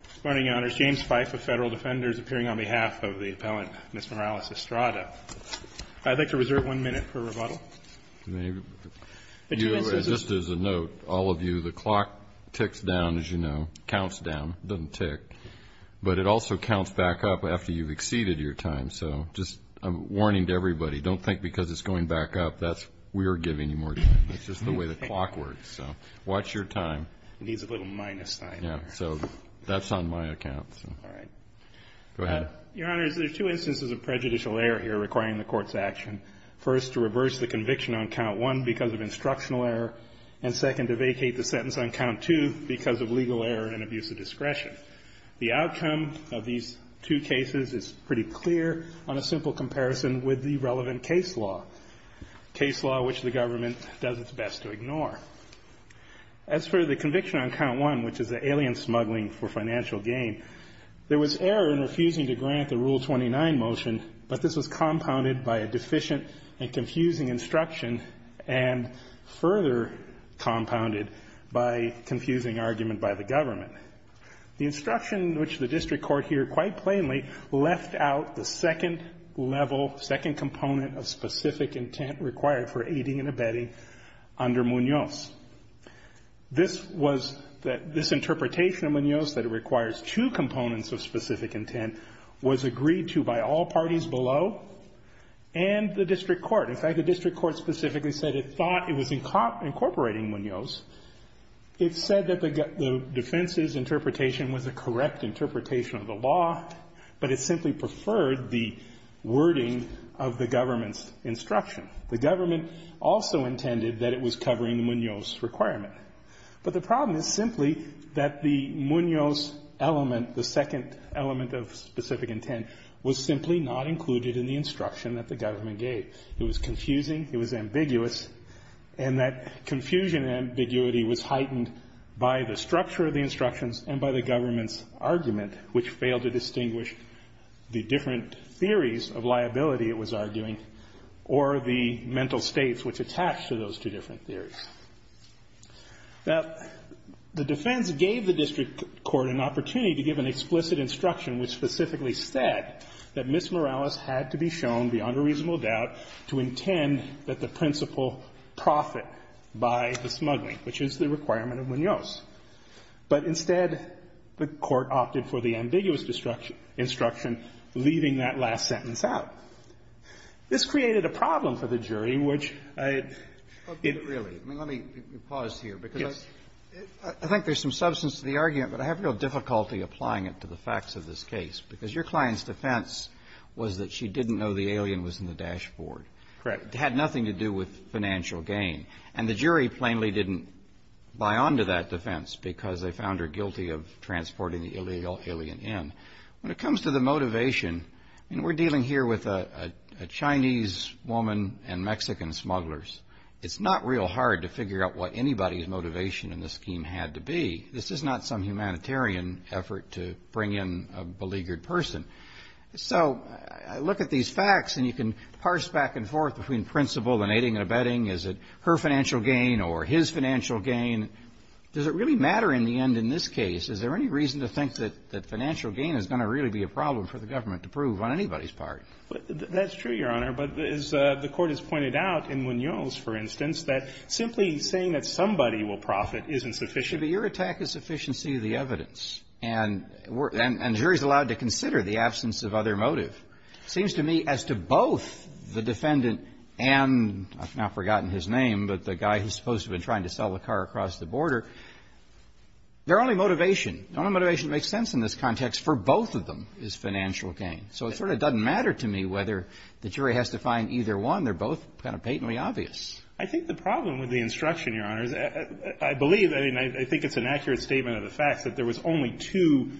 Good morning, Your Honors. James Fife of Federal Defenders appearing on behalf of the appellant Ms. Morales-Estrada. I'd like to reserve one minute per rebuttal. Just as a note, all of you, the clock ticks down, as you know, counts down, doesn't tick. But it also counts back up after you've exceeded your time. So just a warning to everybody, don't think because it's going back up that we're giving you more time. It's just the way the clock works. So watch your time. It needs a little minus sign there. So that's on my account. All right. Go ahead. Your Honors, there are two instances of prejudicial error here requiring the Court's action. First, to reverse the conviction on count one because of instructional error. And second, to vacate the sentence on count two because of legal error and abuse of discretion. The outcome of these two cases is pretty clear on a simple comparison with the relevant case law, case law which the government does its best to ignore. As for the conviction on count one, which is the alien smuggling for financial gain, there was error in refusing to grant the Rule 29 motion, but this was compounded by a deficient and confusing instruction and further compounded by confusing argument by the government. The instruction which the district court here quite plainly left out the second level, second component of specific intent required for aiding and abetting under Munoz. This was that this interpretation of Munoz that it requires two components of specific intent was agreed to by all parties below and the district court. In fact, the district court specifically said it thought it was incorporating Munoz. It said that the defense's interpretation was a correct interpretation of the law, but it simply preferred the wording of the government's instruction. The government also intended that it was covering Munoz's requirement. But the problem is simply that the Munoz element, the second element of specific intent, was simply not included in the instruction that the government gave. It was confusing. It was ambiguous. And that confusion and ambiguity was heightened by the structure of the instructions and by the government's argument, which failed to distinguish the different theories of liability it was arguing or the mental states which attached to those two different theories. Now, the defense gave the district court an opportunity to give an explicit instruction which specifically said that Miss Morales had to be shown beyond a reasonable doubt to intend that the principal profit by the smuggling, which is the requirement of Munoz. But instead, the Court opted for the ambiguous instruction, leaving that last sentence out. This created a problem for the jury, which I had been really let me pause here because I think there's some substance to the argument, but I have no difficulty applying it to the facts of this case because your client's defense was that she didn't know the alien was in the dashboard. Correct. It had nothing to do with financial gain. And the jury plainly didn't buy onto that defense because they found her guilty of transporting the illegal alien in. When it comes to the motivation, I mean, we're dealing here with a Chinese woman and Mexican smugglers. It's not real hard to figure out what anybody's motivation in the scheme had to be. This is not some humanitarian effort to bring in a beleaguered person. So I look at these facts and you can parse back and forth between principle and aiding and abetting. Is it her financial gain or his financial gain? Does it really matter in the end in this case? Is there any reason to think that financial gain is going to really be a problem for the government to prove on anybody's part? That's true, Your Honor. But as the Court has pointed out in Munoz, for instance, that simply saying that somebody will profit isn't sufficient. But your attack is sufficiency of the evidence. And jury's allowed to consider the absence of other motive. It seems to me as to both the defendant and I've now forgotten his name, but the guy who's supposed to have been trying to sell the car across the border, their only motivation, the only motivation that makes sense in this context for both of them is financial gain. So it sort of doesn't matter to me whether the jury has to find either one. They're both kind of patently obvious. I think the problem with the instruction, Your Honor, is I believe, I mean, I think it's an accurate statement of the fact that there was only two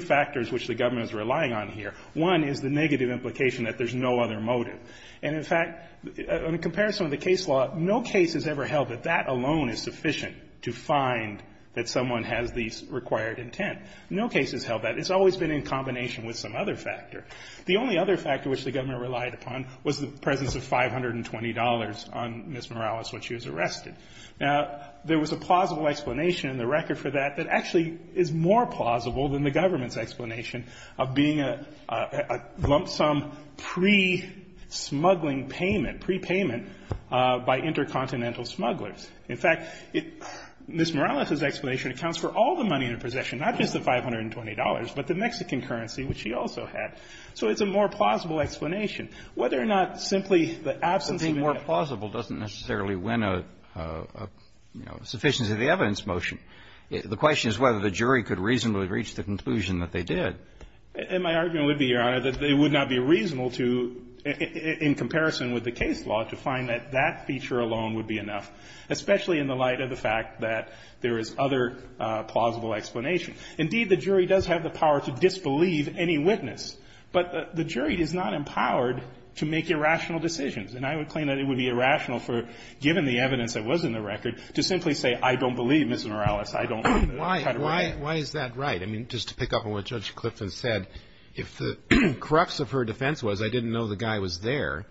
factors which the government was relying on here. One is the negative implication that there's no other motive. And, in fact, on a comparison of the case law, no case has ever held that that alone is sufficient to find that someone has the required intent. No case has held that. It's always been in combination with some other factor. The only other factor which the government relied upon was the presence of $520 on Ms. Morales when she was arrested. Now, there was a plausible explanation in the record for that that actually is more plausible than the government's explanation of being a lump sum pre-smuggling payment, prepayment by intercontinental smugglers. In fact, Ms. Morales's explanation accounts for all the money in her possession, not just the $520, but the Mexican currency, which she also had. So it's a more plausible explanation. Whether or not simply the absence of a negative implication. Kennedy. The question is whether the jury could reasonably reach the conclusion that they did. And my argument would be, Your Honor, that it would not be reasonable to, in comparison with the case law, to find that that feature alone would be enough, especially in the light of the fact that there is other plausible explanation. Indeed, the jury does have the power to disbelieve any witness, but the jury is not empowered to make irrational decisions. And I would claim that it would be irrational for, given the evidence that was in the record, to simply say, I don't believe, Ms. Morales, I don't. Why is that right? I mean, just to pick up on what Judge Clifton said, if the crux of her defense was, I didn't know the guy was there,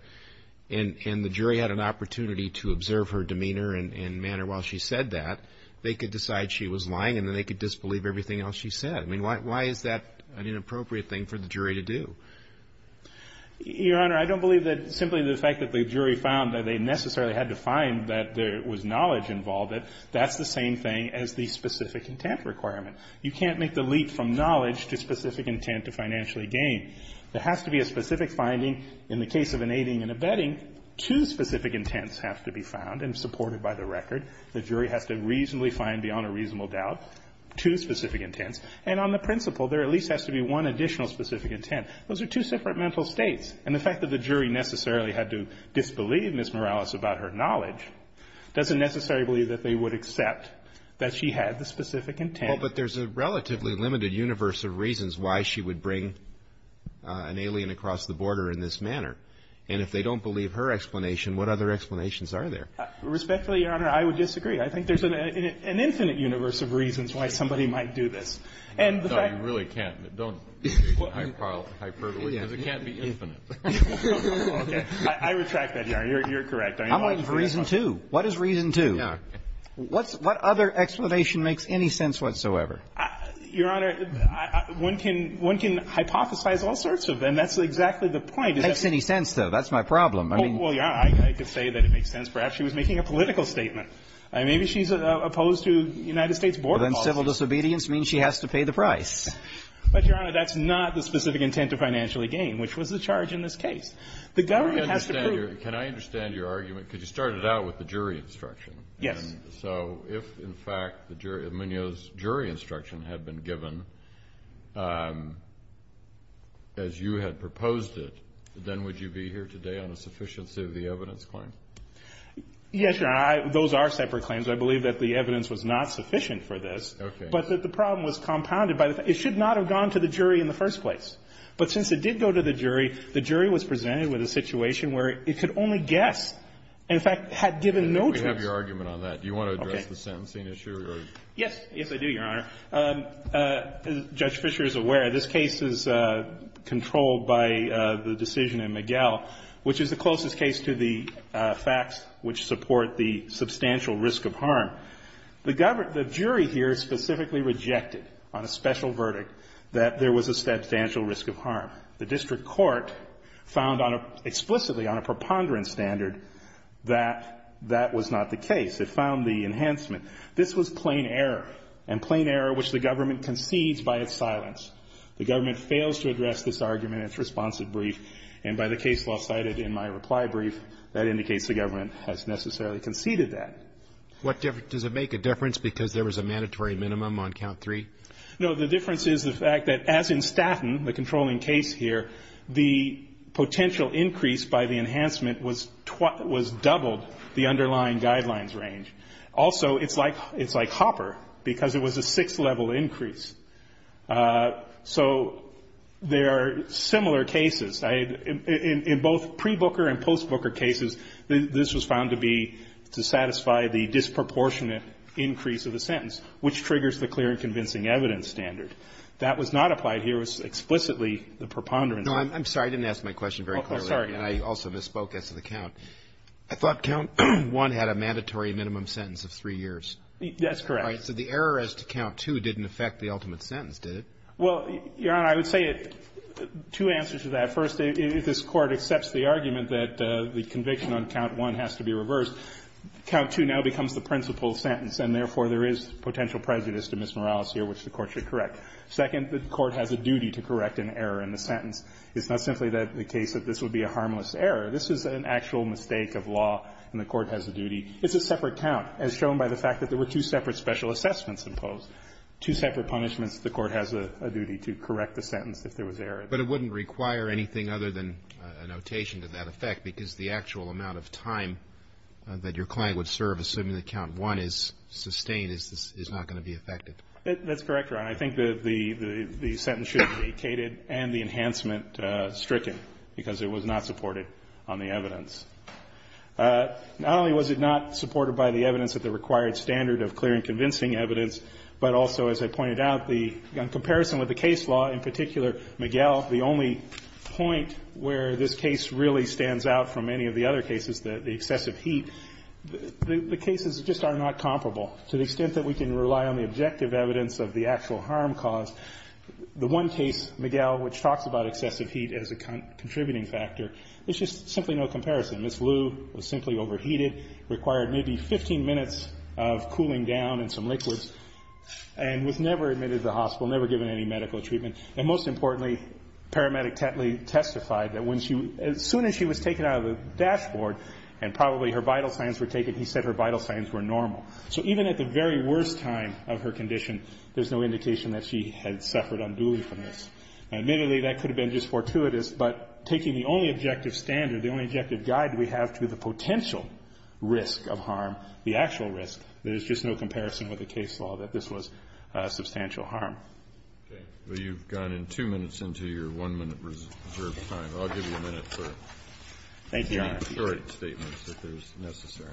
and the jury had an opportunity to observe her demeanor and manner while she said that, they could decide she was lying, and then they could disbelieve everything else she said. I mean, why is that an inappropriate thing for the jury to do? Your Honor, I don't believe that simply the fact that the jury found that they necessarily had to find that there was knowledge involved, that that's the same thing as the specific intent requirement. You can't make the leap from knowledge to specific intent to financially gain. There has to be a specific finding. In the case of an aiding and abetting, two specific intents have to be found and supported by the record. The jury has to reasonably find, beyond a reasonable doubt, two specific intents. And on the principle, there at least has to be one additional specific intent. Those are two separate mental states. And the fact that the jury necessarily had to disbelieve Ms. Morales about her knowledge doesn't necessarily believe that they would accept that she had the specific intent. Well, but there's a relatively limited universe of reasons why she would bring an alien across the border in this manner. And if they don't believe her explanation, what other explanations are there? Respectfully, Your Honor, I would disagree. I think there's an infinite universe of reasons why somebody might do this. No, you really can't. Don't hyperbole, because it can't be infinite. I retract that, Your Honor. You're correct. I'm looking for reason two. What is reason two? What other explanation makes any sense whatsoever? Your Honor, one can hypothesize all sorts of them. That's exactly the point. It makes any sense, though. That's my problem. Well, Your Honor, I could say that it makes sense. Perhaps she was making a political statement. Maybe she's opposed to United States border laws. Well, then civil disobedience means she has to pay the price. But, Your Honor, that's not the specific intent to financially gain, which was the charge in this case. The government has to prove it. Can I understand your argument? Because you started out with the jury instruction. Yes. So if, in fact, Munoz's jury instruction had been given as you had proposed it, then would you be here today on a sufficiency of the evidence claim? Yes, Your Honor. Those are separate claims. I believe that the evidence was not sufficient for this. Okay. But that the problem was compounded by the fact it should not have gone to the jury in the first place. But since it did go to the jury, the jury was presented with a situation where it could only guess and, in fact, had given no choice. We have your argument on that. Do you want to address the sentencing issue? Yes. Yes, I do, Your Honor. Judge Fischer is aware this case is controlled by the decision in Miguel, which is the closest case to the facts which support the substantial risk of harm. The jury here specifically rejected on a special verdict that there was a substantial risk of harm. The district court found explicitly on a preponderance standard that that was not the case. It found the enhancement. This was plain error, and plain error which the government concedes by its silence. The government fails to address this argument in its responsive brief, and by the case law cited in my reply brief, that indicates the government has necessarily conceded that. Does it make a difference because there was a mandatory minimum on count three? No. The difference is the fact that, as in Statton, the controlling case here, the potential increase by the enhancement was doubled the underlying guidelines range. Also, it's like Hopper, because it was a sixth-level increase. So there are similar cases. In both pre-Booker and post-Booker cases, this was found to be to satisfy the disproportionate increase of the sentence, which triggers the clear and convincing evidence standard. That was not applied here. It was explicitly the preponderance. No, I'm sorry. I didn't ask my question very clearly. I'm sorry. And I also misspoke as to the count. I thought count one had a mandatory minimum sentence of three years. That's correct. So the error as to count two didn't affect the ultimate sentence, did it? Well, Your Honor, I would say two answers to that. First, if this Court accepts the argument that the conviction on count one has to be reversed, count two now becomes the principal sentence, and therefore there is potential prejudice to Miss Morales here which the Court should correct. Second, the Court has a duty to correct an error in the sentence. It's not simply the case that this would be a harmless error. This is an actual mistake of law, and the Court has a duty. It's a separate count, as shown by the fact that there were two separate special assessments imposed, two separate punishments. The Court has a duty to correct the sentence if there was error. But it wouldn't require anything other than a notation to that effect, because the actual amount of time that your client would serve, assuming that count one is sustained, is not going to be affected. That's correct, Your Honor. I think that the sentence should have been vacated and the enhancement stricken because it was not supported on the evidence. Not only was it not supported by the evidence of the required standard of clear and convincing evidence, but also, as I pointed out, the comparison with the case law, in particular, Miguel, the only point where this case really stands out from any of the other cases, the excessive heat, the cases just are not comparable to the extent that we can rely on the objective evidence of the actual harm caused. The one case, Miguel, which talks about excessive heat as a contributing factor, there's just simply no comparison. Ms. Liu was simply overheated, required maybe 15 minutes of cooling down and some liquids, and was never admitted to the hospital, never given any medical treatment. And most importantly, paramedic Tetley testified that as soon as she was taken out of the dashboard and probably her vital signs were taken, he said her vital signs were normal. So even at the very worst time of her condition, there's no indication that she had suffered unduly from this. Admittedly, that could have been just fortuitous, but taking the only objective standard, the only objective guide we have to the potential risk of harm, the actual risk, there's just no comparison with the case law that this was substantial harm. Okay. Well, you've gone in two minutes into your one-minute reserved time. I'll give you a minute for any short statements if there's necessary.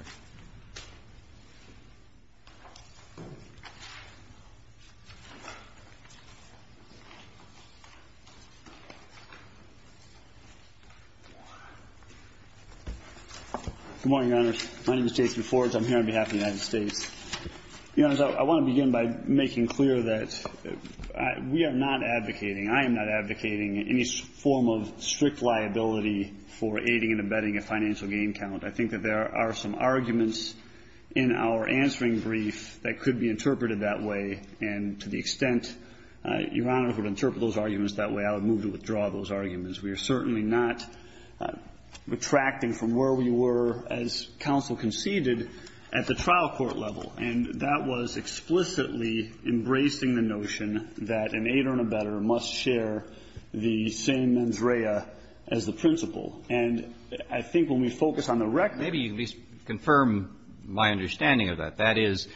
Good morning, Your Honors. My name is Jason Forge. I'm here on behalf of the United States. Your Honors, I want to begin by making clear that we are not advocating, I am not advocating any form of strict liability for aiding and abetting a financial gain count. I think that there are some arguments in our answering brief that could be interpreted that way, and to the extent Your Honors would interpret those arguments that way, I would move to withdraw those arguments. We are certainly not retracting from where we were as counsel conceded at the trial court level, and that was explicitly embracing the notion that an aider and abetter must share the same mens rea as the principal. And I think when we focus on the record of that. Maybe you can at least confirm my understanding of that. That is,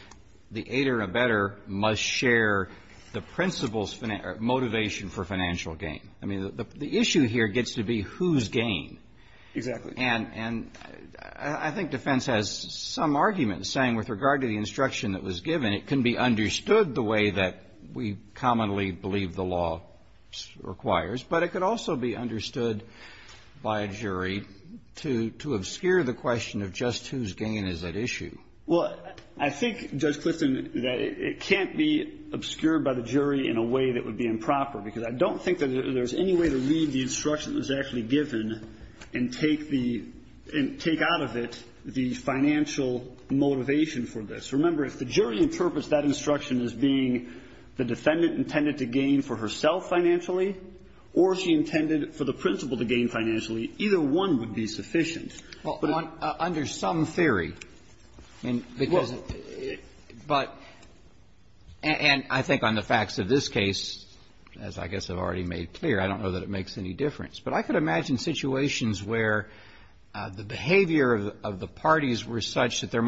the aider and abetter must share the principal's motivation for financial gain. I mean, the issue here gets to be whose gain. Exactly. And I think defense has some arguments saying with regard to the instruction that was given, it can be understood the way that we commonly believe the law requires, but it could also be understood by a jury to obscure the question of just whose gain is at issue. Well, I think, Judge Clifton, that it can't be obscured by the jury in a way that would be improper, because I don't think that there's any way to read the instruction that was actually given and take the – and take out of it the financial motivation for this. Remember, if the jury interprets that instruction as being the defendant intended to gain for herself financially or she intended for the principal to gain financially, either one would be sufficient. Well, under some theory. And because it – but – and I think on the facts of this case, as I guess I've already made clear, I don't know that it makes any difference. But I could imagine situations where the behavior of the parties were such that there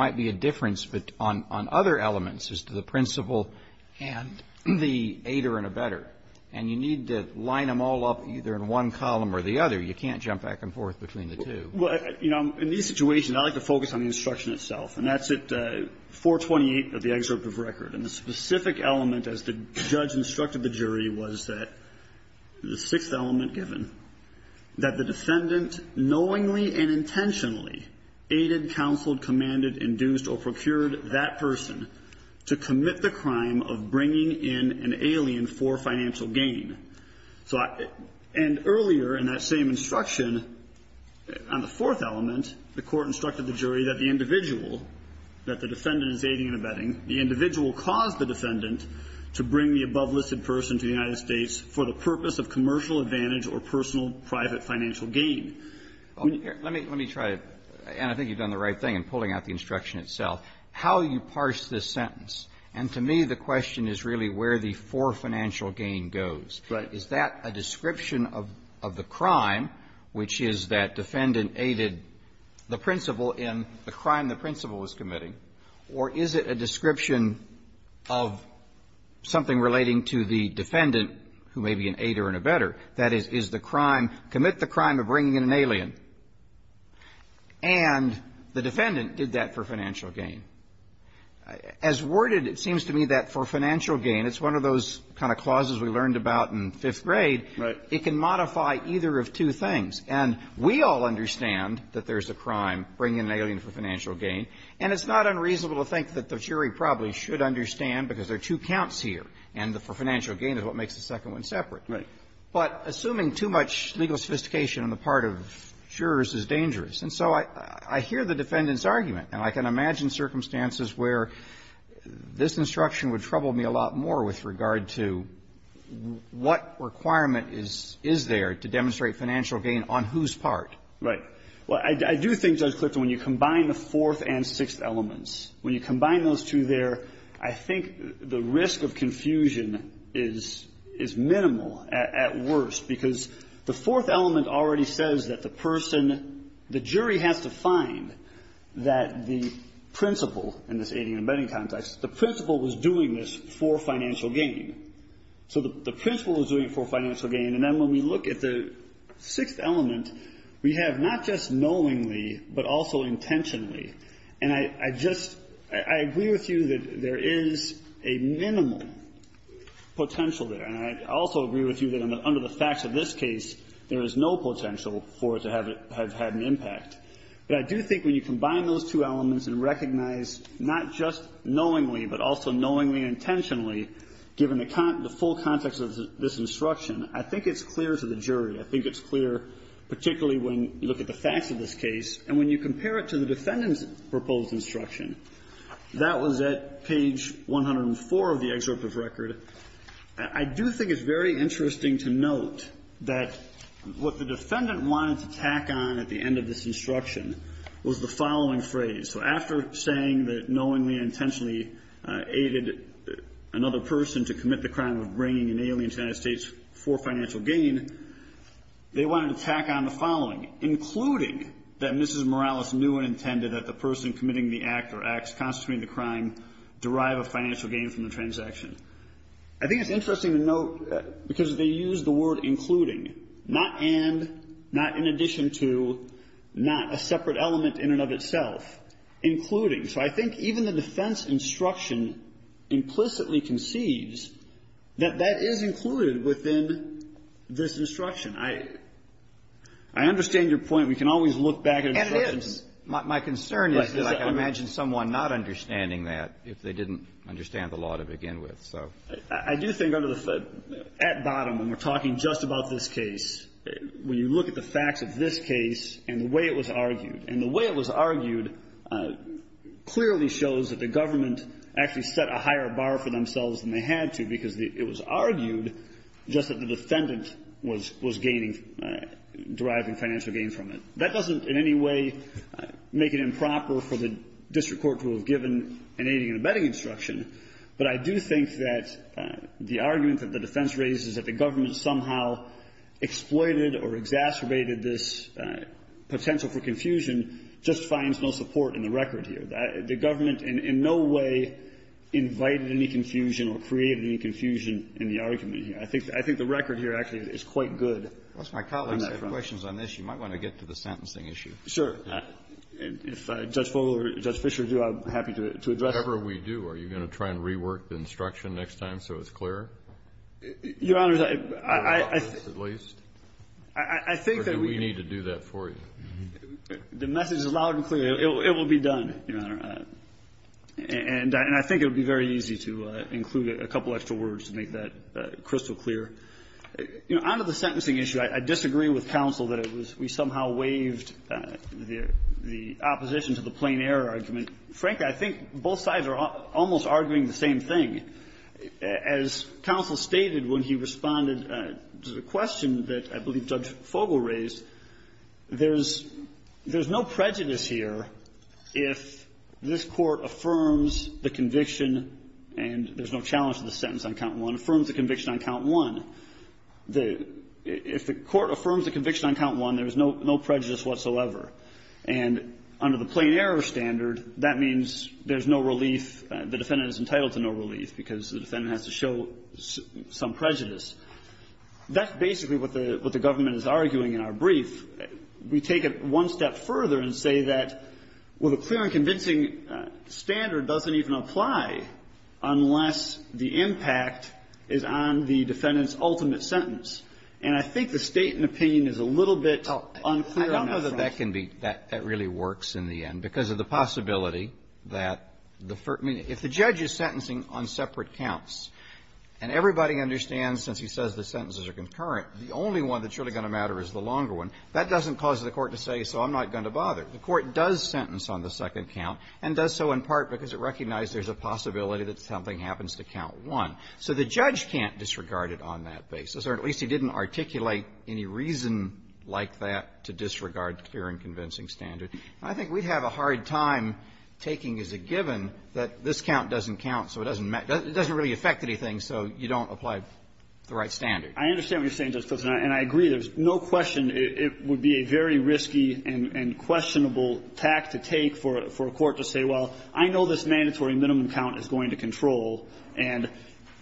And you need to line them all up either in one column or the other. You can't jump back and forth between the two. Well, you know, in these situations, I like to focus on the instruction itself. And that's at 428 of the excerpt of record. And the specific element, as the judge instructed the jury, was that the sixth element given, that the defendant knowingly and intentionally aided, counseled, commanded, induced, or procured that person to commit the crime of bringing in an alien for financial gain. So I – and earlier in that same instruction, on the fourth element, the Court instructed the jury that the individual, that the defendant is aiding and abetting, the individual caused the defendant to bring the above-listed person to the United States for the purpose of commercial advantage or personal private financial gain. Let me try it. And I think you've done the right thing in pulling out the instruction itself. How you parse this sentence, and to me the question is really where the for financial gain goes. Right. Is that a description of the crime, which is that defendant aided the principal in the crime the principal was committing? Or is it a description of something relating to the defendant, who may be an aider and abetter? That is, is the crime, commit the crime of bringing in an alien. And the defendant did that for financial gain. As worded, it seems to me that for financial gain, it's one of those kind of clauses we learned about in fifth grade. Right. It can modify either of two things. And we all understand that there's a crime, bringing in an alien for financial gain, and it's not unreasonable to think that the jury probably should understand because there are two counts here, and the for financial gain is what makes the second one separate. Right. But assuming too much legal sophistication on the part of jurors is dangerous. And so I hear the defendant's argument. And I can imagine circumstances where this instruction would trouble me a lot more with regard to what requirement is there to demonstrate financial gain on whose part. Right. Well, I do think, Judge Clifton, when you combine the fourth and sixth elements, when you combine those two there, I think the risk of confusion is minimal, at worst, because the fourth element already says that the person, the jury has to find that the principal, in this aiding and abetting context, the principal was doing this for financial gain. So the principal was doing it for financial gain. And then when we look at the sixth element, we have not just knowingly, but also intentionally. And I just, I agree with you that there is a minimal potential there. And I also agree with you that under the facts of this case, there is no potential for it to have had an impact. But I do think when you combine those two elements and recognize not just knowingly, but also knowingly and intentionally, given the full context of this instruction, I think it's clear to the jury. I think it's clear particularly when you look at the facts of this case. And when you compare it to the defendant's proposed instruction, that was at page 104 of the excerpt of record. I do think it's very interesting to note that what the defendant wanted to tack on at the end of this instruction was the following phrase. So after saying that knowingly and intentionally aided another person to commit the crime of bringing an alien to the United States for financial gain, they wanted to tack on the following, including that Mrs. Morales knew and intended that the person committing the act or acts constituting the crime derive a financial gain from the transaction. I think it's interesting to note, because they used the word including, not and, not in addition to, not a separate element in and of itself, including. So I think even the defense instruction implicitly conceives that that is included within this instruction. I understand your point. We can always look back at instructions. And it is. My concern is that I can imagine someone not understanding that if they didn't understand the law to begin with. So. I do think at bottom, when we're talking just about this case, when you look at the facts of this case and the way it was argued, and the way it was argued clearly shows that the government actually set a higher bar for themselves than they had to because it was argued just that the defendant was gaining, deriving financial gain from it. That doesn't in any way make it improper for the district court to have given an aiding and abetting instruction. But I do think that the argument that the defense raises that the government somehow exploited or exacerbated this potential for confusion just finds no support in the record here. The government in no way invited any confusion or created any confusion in the argument here. I think the record here actually is quite good on that front. Unless my colleagues have questions on this, you might want to get to the sentencing issue. Sure. If Judge Fogle or Judge Fischer do, I'm happy to address them. Whatever we do, are you going to try and rework the instruction next time so it's clearer? Your Honor, I think that we need to do that for you. The message is loud and clear. It will be done, Your Honor. And I think it would be very easy to include a couple extra words to make that crystal clear. Under the sentencing issue, I disagree with counsel that we somehow waived the opposition to the plain error argument. Frankly, I think both sides are almost arguing the same thing. As counsel stated when he responded to the question that I believe Judge Fogle raised, there's no prejudice here if this Court affirms the conviction and there's no challenge to the sentence on count one, affirms the conviction on count one. If the Court affirms the conviction on count one, there's no prejudice whatsoever. And under the plain error standard, that means there's no relief, the defendant is entitled to no relief because the defendant has to show some prejudice. That's basically what the government is arguing in our brief. We take it one step further and say that, well, the clear and convincing standard doesn't even apply unless the impact is on the defendant's ultimate sentence. And I think the state and opinion is a little bit unclear on that front. I don't know that that can be that really works in the end because of the possibility that if the judge is sentencing on separate counts and everybody understands since he says the sentences are concurrent, the only one that's really going to matter is the longer one, that doesn't cause the Court to say, so I'm not going to bother. The Court does sentence on the second count and does so in part because it recognizes there's a possibility that something happens to count one. So the judge can't disregard it on that basis, or at least he didn't articulate any reason like that to disregard the clear and convincing standard. And I think we have a hard time taking as a given that this count doesn't count, so it doesn't matter. It doesn't really affect anything, so you don't apply the right standard. I understand what you're saying, Justice Kagan, and I agree. There's no question it would be a very risky and questionable tact to take for a court to say, well, I know this mandatory minimum count is going to control, and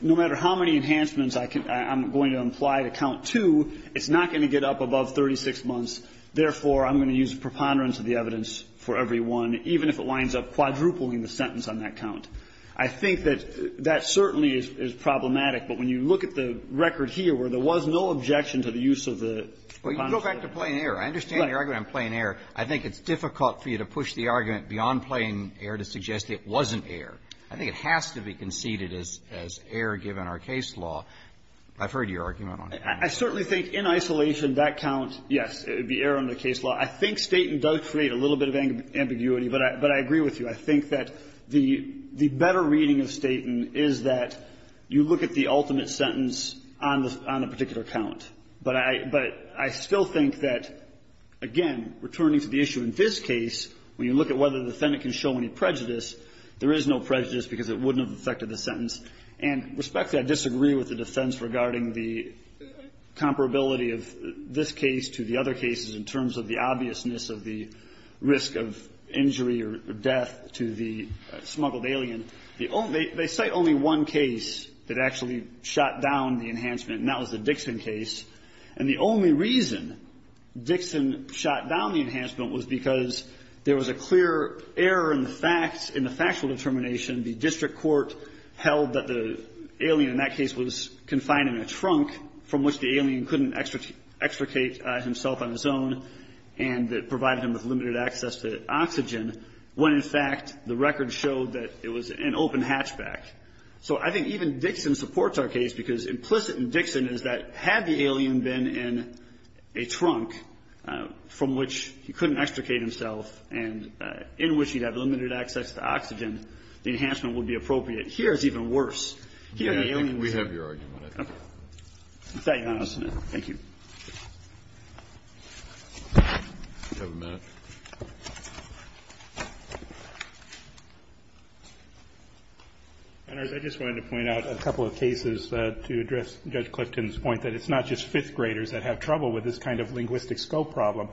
no matter how many enhancements I'm going to imply to count two, it's not going to get up above 36 months, therefore, I'm going to use preponderance of the evidence for every one, even if it winds up quadrupling the sentence on that count. I think that that certainly is problematic, but when you look at the record here where there was no objection to the use of the preponderance of the evidence. Well, you go back to plain error. I understand your argument on plain error. I think it's difficult for you to push the argument beyond plain error to suggest it wasn't error. I think it has to be conceded as error given our case law. I've heard your argument on that. I certainly think in isolation, that count, yes, it would be error under case law. I think Staton does create a little bit of ambiguity, but I agree with you. I think that the better reading of Staton is that you look at the ultimate sentence on the particular count, but I still think that, again, returning to the issue in this case, it would have been a prejudice because it wouldn't have affected the sentence. And respectfully, I disagree with the defense regarding the comparability of this case to the other cases in terms of the obviousness of the risk of injury or death to the smuggled alien. The only they cite only one case that actually shot down the enhancement, and that was the Dixon case. And the only reason Dixon shot down the enhancement was because there was a clear error in the facts, in the factual determination. The district court held that the alien in that case was confined in a trunk, from which the alien couldn't extricate himself on his own, and that provided him with limited access to oxygen, when in fact the record showed that it was an open hatchback. So I think even Dixon supports our case because implicit in Dixon is that had the alien been in a trunk from which he couldn't extricate himself, and in which he'd have limited access to oxygen, the enhancement would be appropriate. Here it's even worse. Here the alien was in a trunk. We have your argument. Thank you, Your Honor. Thank you. Do you have a minute? I just wanted to point out a couple of cases to address Judge Clifton's point that it's not just fifth graders that have trouble with this kind of linguistic scope problem.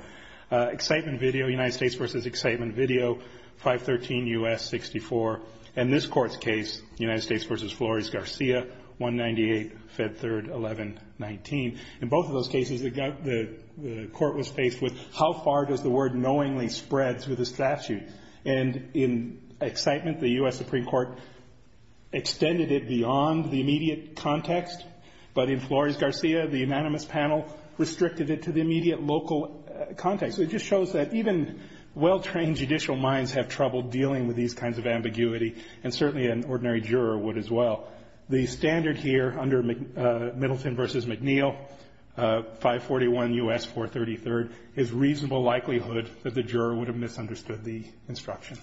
Excitement Video, United States v. Excitement Video, 513 U.S. 64, and this Court's case, United States v. Flores-Garcia, 198, Feb. 3, 1119. In both of those cases the Court was faced with how far does the word knowing spread through the statute. And in Excitement the U.S. Supreme Court extended it beyond the immediate context, but in Flores-Garcia the unanimous panel restricted it to the immediate local context. It just shows that even well-trained judicial minds have trouble dealing with these kinds of ambiguity, and certainly an ordinary juror would as well. The standard here under Middleton v. McNeil, 541 U.S. 433rd, is reasonable likelihood that the juror would have misunderstood the instructions.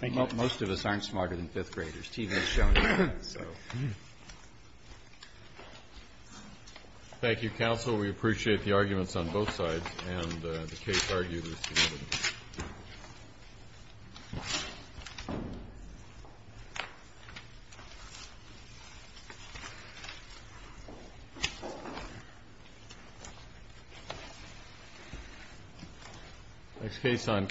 Thank you. Kennedy. Most of us aren't smarter than fifth graders. TV has shown it. Thank you, counsel. We appreciate the arguments on both sides and the case arguers.